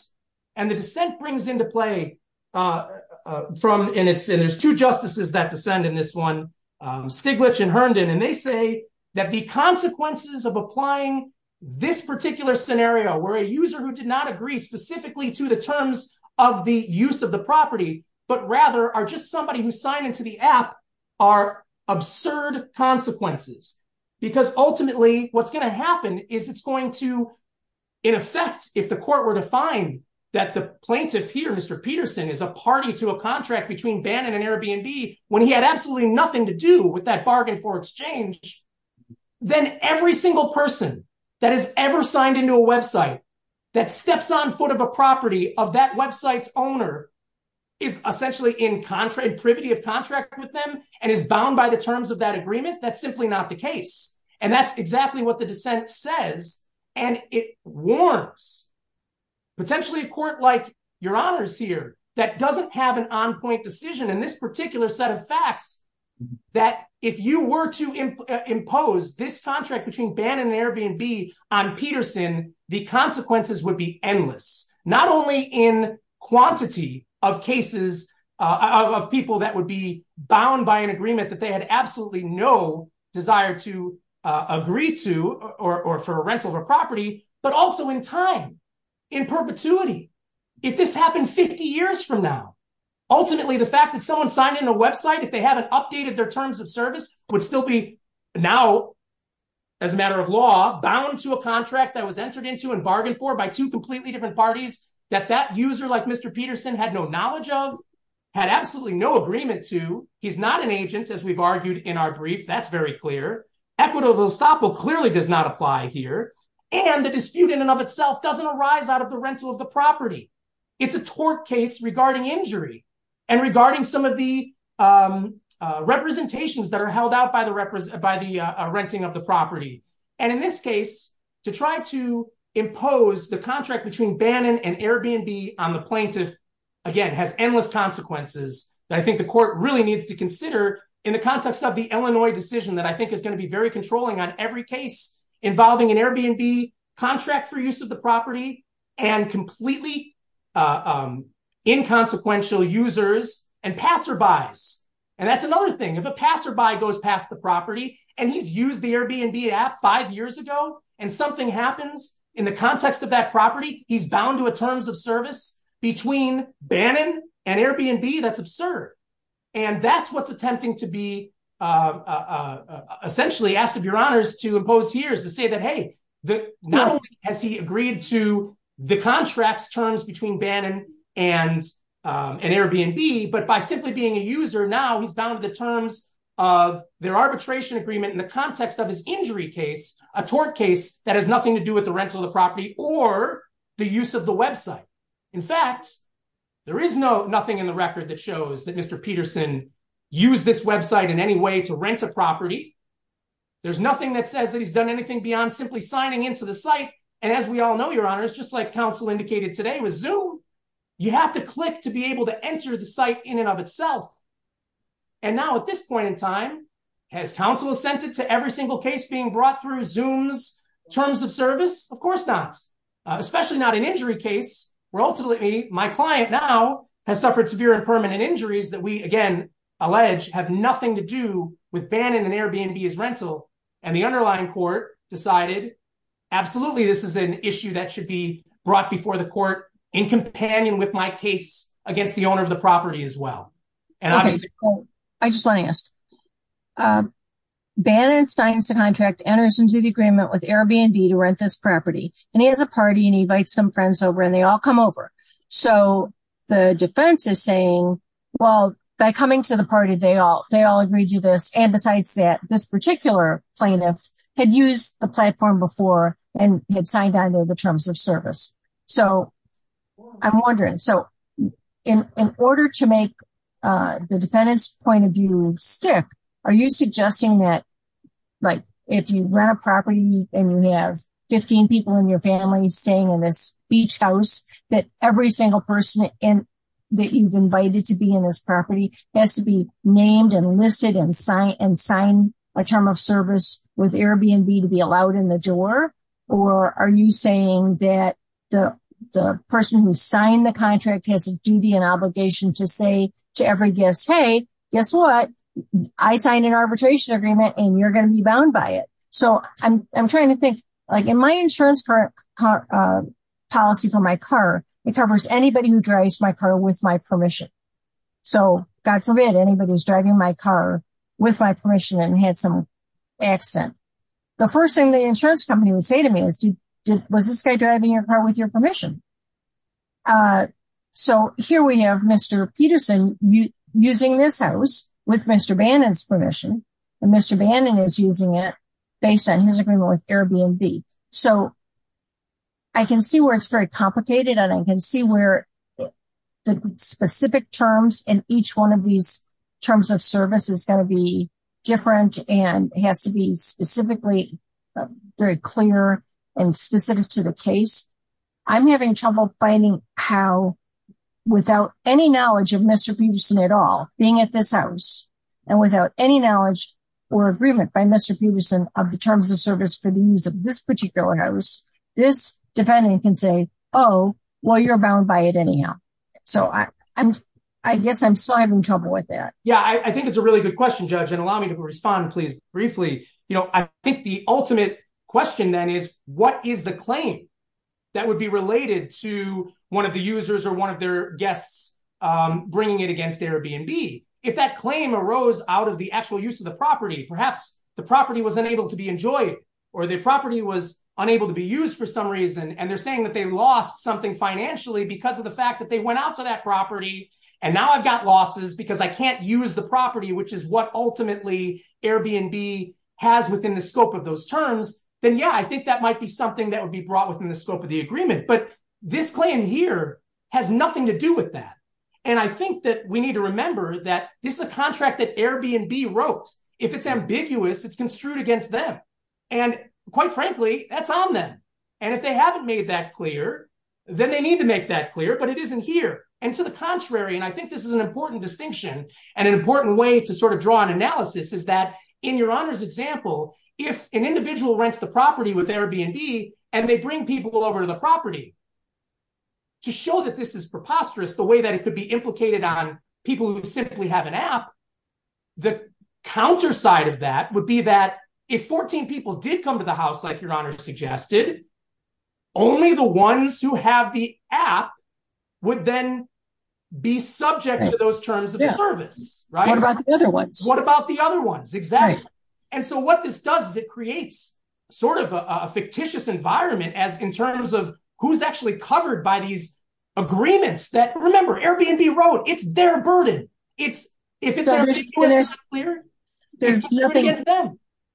and the dissent brings into play. From, and it's, and there's two justices that descend in this one Stiglitz and Herndon, and they say that the consequences of applying this particular scenario where a user who did not agree specifically to the terms of the use of the property, but rather are just somebody who signed into the app are absurd consequences because ultimately what's going to happen is it's going to. In effect, if the court were to find that the plaintiff here, Mr. Peterson is a party to a contract between Bannon and Airbnb, when he had absolutely nothing to do with that bargain for exchange, then every single person that has ever signed into a website that steps on foot of a property of that website's owner is essentially in contract privity of contract with them and is bound by the terms of that agreement. That's simply not the case. And that's exactly what the dissent says. And it warrants potentially a court like your honors here that doesn't have an on-point decision in this particular set of facts that if you were to impose this contract between Bannon and Airbnb on Peterson, the consequences would be endless, not only in quantity of cases of people that would be bound by an desire to agree to, or for a rental of a property, but also in time in perpetuity, if this happened 50 years from now, ultimately the fact that someone signed in a website, if they haven't updated their terms of service would still be now as a matter of law bound to a contract that was entered into and bargained for by two completely different parties that that user, like Mr. Peterson had no knowledge of, had absolutely no agreement to. He's not an agent as we've argued in our brief. That's very clear. Equitable stop will clearly does not apply here. And the dispute in and of itself doesn't arise out of the rental of the property. It's a tort case regarding injury and regarding some of the representations that are held out by the represent, by the renting of the property. And in this case, to try to impose the contract between Bannon and Airbnb on the plaintiff, again, has endless consequences that I think the court really needs to consider in the context of the Illinois decision that I think is going to be very controlling on every case involving an Airbnb contract for use of the property and completely inconsequential users and passerbys. And that's another thing. If a passerby goes past the property and he's used the Airbnb app five years ago and something happens in the context of that property, he's bound to a terms of service between Bannon and Airbnb. That's absurd. And that's what's attempting to be essentially asked of your honors to impose here is to say that, hey, not only has he agreed to the contract's terms between Bannon and Airbnb, but by simply being a user now, he's bound to the terms of their arbitration agreement in the context of his injury case, a tort case that has nothing to do with the rental of the property or the use of the website. In fact, there is no nothing in the record that shows that Mr. Peterson used this website in any way to rent a property. There's nothing that says that he's done anything beyond simply signing into the site. And as we all know, your honors, just like counsel indicated today with Zoom, you have to click to be able to enter the site in and of itself. And now at this point in time, has counsel assented to every single case being brought through Zoom's terms of service? Of course not, especially not an injury case where ultimately my client now has suffered severe and permanent injuries that we, again, allege have nothing to do with Bannon and Airbnb's rental. And the underlying court decided, absolutely, this is an issue that should be brought before the court in companion with my case against the owner of the property as well. And I just want to ask, Bannon and Stein's contract enters into the agreement with Airbnb to rent this property and he has a party and he invites some friends over and they all come over. So the defense is saying, well, by coming to the party, they all agreed to this. And besides that, this particular plaintiff had used the platform before and had signed on to the terms of service. So I'm wondering, so in order to make the defendant's point of view stick, are you suggesting that if you rent a property and you have 15 people in your family staying in this beach house, that every single person that you've invited to be in this property has to be named and listed and sign a term of service with Airbnb to be allowed in the door? Or are you saying that the person who signed the contract has a duty and agreement and you're going to be bound by it? So I'm trying to think like in my insurance policy for my car, it covers anybody who drives my car with my permission. So God forbid anybody who's driving my car with my permission and had some accent. The first thing the insurance company would say to me is, was this guy driving your car with your permission? So here we have Mr. Bannon's permission and Mr. Bannon is using it based on his agreement with Airbnb. So I can see where it's very complicated and I can see where the specific terms in each one of these terms of service is going to be different and it has to be specifically very clear and specific to the case. I'm having trouble finding how, without any knowledge of Mr. Peterson at all, being at this house and without any knowledge or agreement by Mr. Peterson of the terms of service for the use of this particular house, this defendant can say, oh, well, you're bound by it anyhow. So I guess I'm still having trouble with that. Yeah, I think it's a really good question, Judge, and allow me to respond, please, briefly. I think the ultimate question then is, what is the claim that would be brought against Airbnb if that claim arose out of the actual use of the property? Perhaps the property was unable to be enjoyed or the property was unable to be used for some reason. And they're saying that they lost something financially because of the fact that they went out to that property. And now I've got losses because I can't use the property, which is what ultimately Airbnb has within the scope of those terms. Then, yeah, I think that might be something that would be brought within the scope of the agreement. But this claim here has nothing to do with that. And I think that we need to remember that this is a contract that Airbnb wrote. If it's ambiguous, it's construed against them. And quite frankly, that's on them. And if they haven't made that clear, then they need to make that clear. But it isn't here and to the contrary. And I think this is an important distinction and an important way to sort of draw an analysis is that in your honor's example, if an individual rents the property with Airbnb and they bring people over to the property. To show that this is preposterous, the way that it could be implicated on people who simply have an app, the counterside of that would be that if 14 people did come to the house, like your honor suggested, only the ones who have the app would then be subject to those terms of service. Right. What about the other ones? What about the other ones? Exactly. And so what this does is it creates sort of a fictitious environment as in terms of who's actually covered by these agreements that remember Airbnb Road, it's their burden. It's if it's clear, there's nothing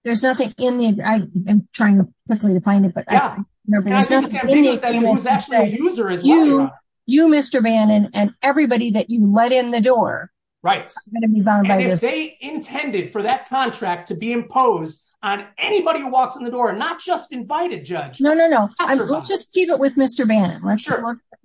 there's nothing in the I'm trying quickly to find it, but there's nothing that was actually a user is you, you, Mr. Bannon and everybody that you let in the door. Right. And if they intended for that contract to be imposed on anybody who walks in the door and not just invite a judge. No, no, no. We'll just keep it with Mr. Bannon. Let's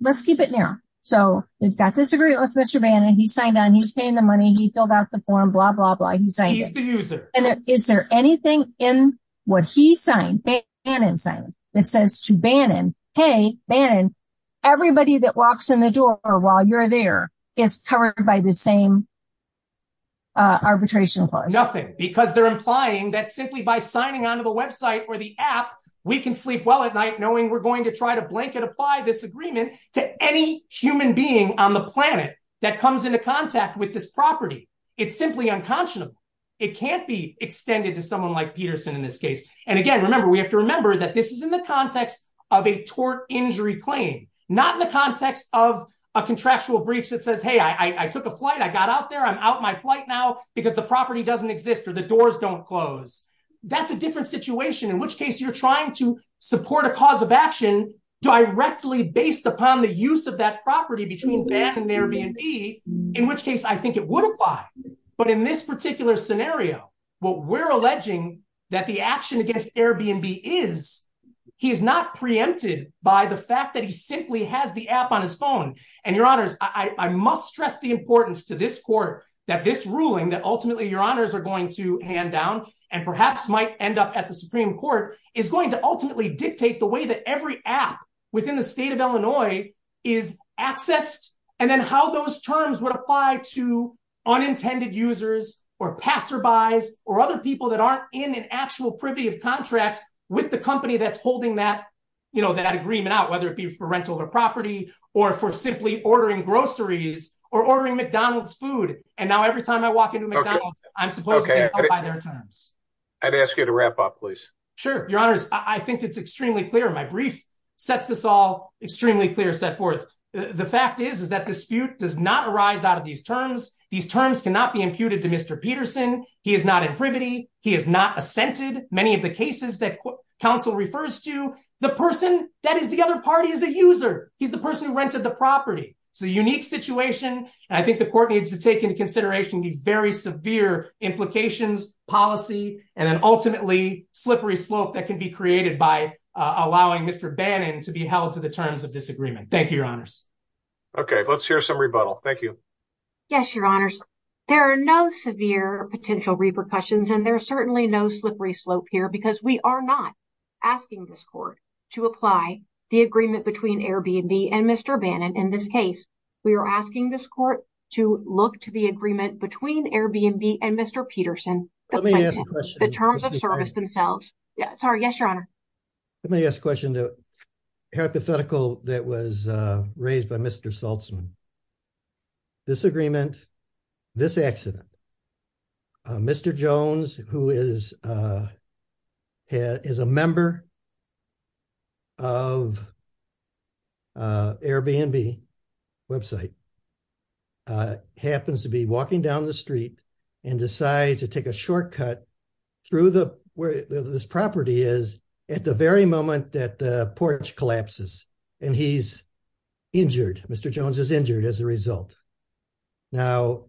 let's keep it now. So we've got this agreement with Mr. Bannon. He signed on. He's paying the money. He filled out the form, blah, blah, blah. He's saying he's the user. And is there anything in what he signed, Bannon signed that says to Bannon, hey, Bannon, everybody that walks in the door or while you're there is covered by the same. Arbitration, nothing, because they're implying that simply by signing on to the app, we can sleep well at night knowing we're going to try to blanket apply this agreement to any human being on the planet that comes into contact with this property. It's simply unconscionable. It can't be extended to someone like Peterson in this case. And again, remember, we have to remember that this is in the context of a tort injury claim, not in the context of a contractual breach that says, hey, I took a flight. I got out there. I'm out my flight now because the property doesn't exist or the doors don't close. That's a different situation. In which case you're trying to support a cause of action directly based upon the use of that property between Bannon and Airbnb, in which case I think it would apply. But in this particular scenario, what we're alleging that the action against Airbnb is he is not preempted by the fact that he simply has the app on his phone. And your honors, I must stress the importance to this court that this ruling that ultimately your honors are going to hand down and perhaps might end up at the Supreme Court is going to ultimately dictate the way that every app within the state of Illinois is accessed and then how those terms would apply to unintended users or passerbys or other people that aren't in an actual privy of contract with the company that's holding that, you know, that agreement out, whether it be for rental or property or for simply ordering groceries or ordering McDonald's food. And now every time I walk into McDonald's, I'm supposed to buy their terms. I'd ask you to wrap up, please. Sure. Your honors, I think it's extremely clear. My brief sets this all extremely clear set forth. The fact is, is that dispute does not arise out of these terms. These terms cannot be imputed to Mr. Peterson. He is not in privity. He is not assented. Many of the cases that counsel refers to the person that is the other party is a user. He's the person who rented the property. It's a unique situation. And I think the court needs to take into consideration the very severe implications, policy and then ultimately slippery slope that can be created by allowing Mr. Bannon to be held to the terms of this agreement. Thank you, your honors. OK, let's hear some rebuttal. Thank you. Yes, your honors. There are no severe potential repercussions and there are certainly no slippery slope here because we are not asking this court to apply the agreement between Airbnb and Mr. Bannon. In this case, we are asking this court to look to the agreement between Airbnb and Mr. Peterson, the terms of service themselves. Sorry. Yes, your honor. Let me ask a question. The hypothetical that was raised by Mr. Saltzman. This agreement, this accident, Mr. Jones, who is a member of Airbnb website, happens to be walking down the street and decides to take a shortcut through the where this property is at the very moment that the porch collapses and he's injured. Mr. Jones is injured as a result. Now,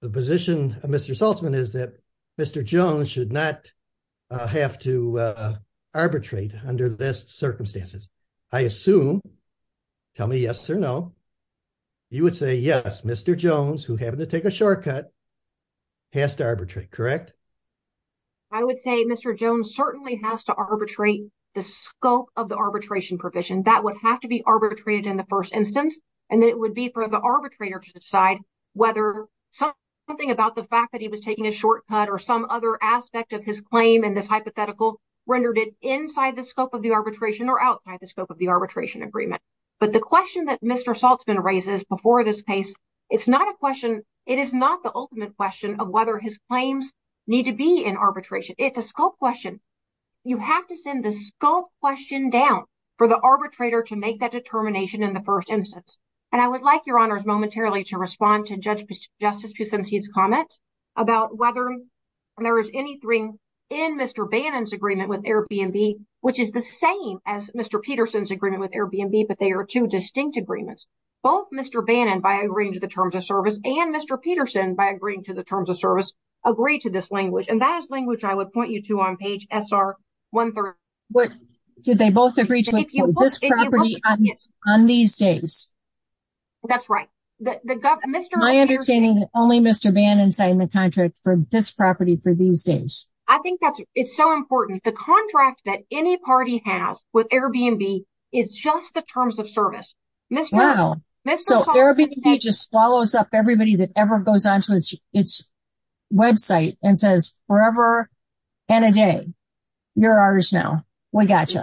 the position of Mr. Saltzman is that Mr. Jones should not have to arbitrate under this circumstances, I assume. Tell me yes or no. You would say yes, Mr. Jones, who happened to take a shortcut. Past arbitrary, correct. I would say Mr. Jones certainly has to arbitrate the scope of the arbitration provision that would have to be arbitrated in the first instance, and it would be for the arbitrator to decide whether something about the fact that he was taking a shortcut or some other aspect of his claim in this hypothetical rendered it inside the scope of the arbitration or outside the scope of the arbitration agreement. But the question that Mr. Saltzman raises before this case, it's not a question. It is not the ultimate question of whether his claims need to be in arbitration. It's a scope question. You have to send the scope question down for the arbitrator to make that determination in the first instance. And I would like your honors momentarily to respond to Judge Justice Pucinci's comment about whether there is anything in Mr. Bannon's agreement with Airbnb, which is the same as Mr. Peterson's agreement with Airbnb, but they are two distinct agreements. Both Mr. Bannon, by agreeing to the terms of service and Mr. Peterson, by agreeing to the terms of service, agree to this language. And that is language I would point you to on page SR-130. But did they both agree to this property on these days? That's right. My understanding is that only Mr. Bannon signed the contract for this property for these days. I think that's it's so important. The contract that any party has with Airbnb is just the terms of service. Wow. So Airbnb just swallows up everybody that ever goes onto its website and says forever and a day. You're ours now. We got you.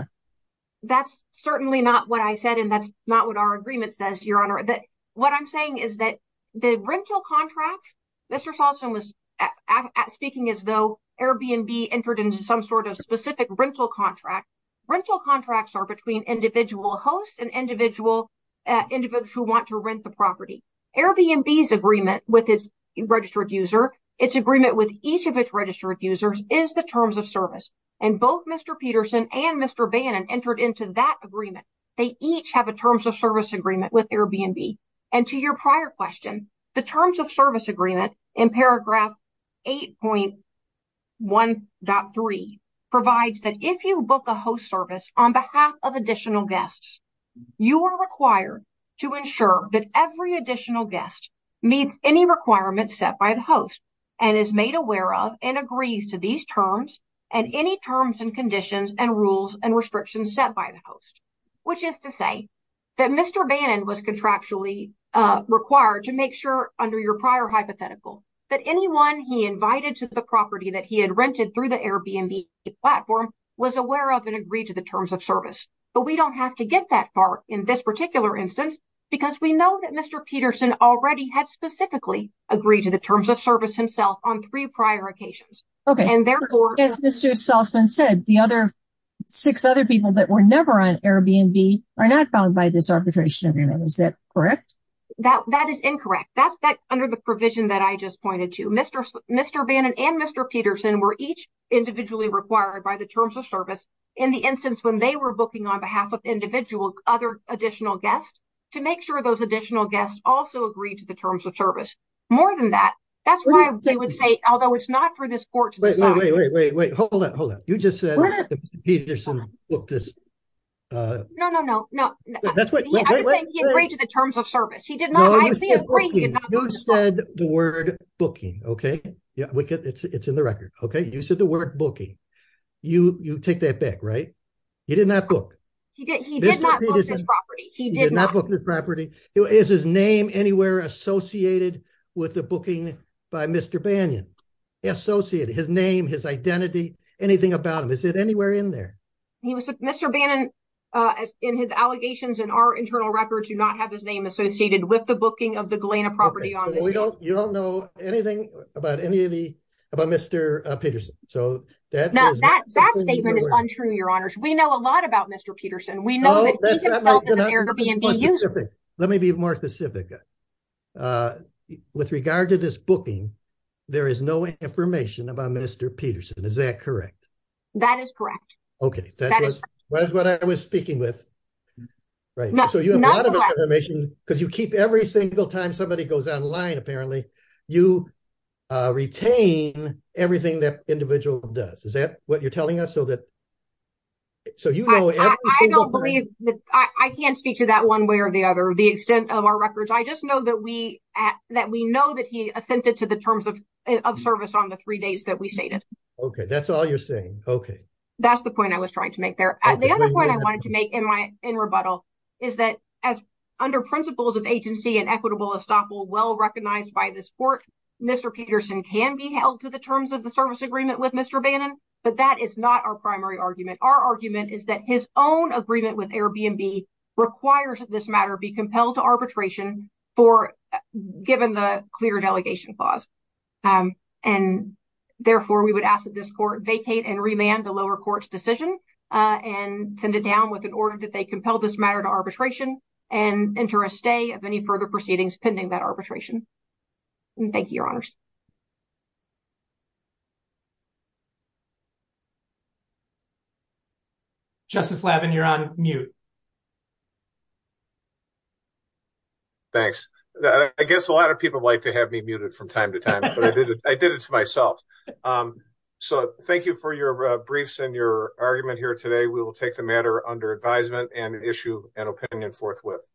That's certainly not what I said, and that's not what our agreement says, Your Honor. What I'm saying is that the rental contract, Mr. Peterson, has some sort of specific rental contract. Rental contracts are between individual hosts and individual individuals who want to rent the property. Airbnb's agreement with its registered user, its agreement with each of its registered users, is the terms of service. And both Mr. Peterson and Mr. Bannon entered into that agreement. They each have a terms of service agreement with Airbnb. And to your prior question, the terms of service agreement in paragraph 8.1.3. Provides that if you book a host service on behalf of additional guests, you are required to ensure that every additional guest meets any requirements set by the host and is made aware of and agrees to these terms and any terms and conditions and rules and restrictions set by the host, which is to say that Mr. Bannon was contractually required to make sure under your prior hypothetical that anyone he invited to the property that he had rented through the Airbnb platform was aware of and agreed to the terms of service. But we don't have to get that far in this particular instance because we know that Mr. Peterson already had specifically agreed to the terms of service himself on three prior occasions. OK, and therefore, as Mr. Salzman said, the other six other people that were never on Airbnb are not bound by this arbitration agreement. Is that correct? That that is incorrect. That's that under the provision that I just pointed to, Mr. Mr. Bannon and Mr. Peterson were each individually required by the terms of service in the instance when they were booking on behalf of individual other additional guests to make sure those additional guests also agreed to the terms of service. More than that. That's why I would say, although it's not for this court to wait, wait, wait, wait. Hold up. Hold up. You just said Peterson booked this. No, no, no, no. That's what he agreed to the terms of service. He did not agree. Who said the word booking? OK, yeah, it's in the record. OK, you said the word booking. You take that back, right? He did not book. He did. He did not book this property. He did not book this property. Is his name anywhere associated with the booking by Mr. Bannon? He associated his name, his identity, anything about him. Is it anywhere in there? He was Mr. Bannon in his allegations in our internal records do not have his name associated with the booking of the Galena property. You don't know anything about any of the about Mr. Peterson. So that now that that statement is untrue. Your honors. We know a lot about Mr. Peterson. We know that. Let me be more specific with regard to this booking. There is no information about Mr. Peterson. Is that correct? That is correct. OK, that is what I was speaking with. Right now, so you have a lot of information because you keep every single time somebody goes online. Apparently you retain everything that individual does. Is that what you're telling us? So that. So, you know, I don't believe that I can't speak to that one way or the other, the extent of our records, I just know that we that we know that he assented to the terms of service on the three days that we stated. OK, that's all you're saying. OK, that's the point I was trying to make there. The other point I wanted to make in my in rebuttal is that as under principles of agency and equitable estoppel well recognized by this court, Mr. Peterson can be held to the terms of the service agreement with Mr. Bannon. But that is not our primary argument. Our argument is that his own agreement with Airbnb requires this matter be compelled to arbitration for given the clear delegation clause. And therefore, we would ask that this court vacate and remand the lower court's decision and send it down with an order that they compel this matter to arbitration and enter a stay of any further proceedings pending that arbitration. And thank you, your honors. Justice Levin, you're on mute. Thanks. I guess a lot of people like to have me muted from time to time, but I did it I did it to myself. So thank you for your briefs and your argument here today. We will take the matter under advisement and issue an opinion forthwith.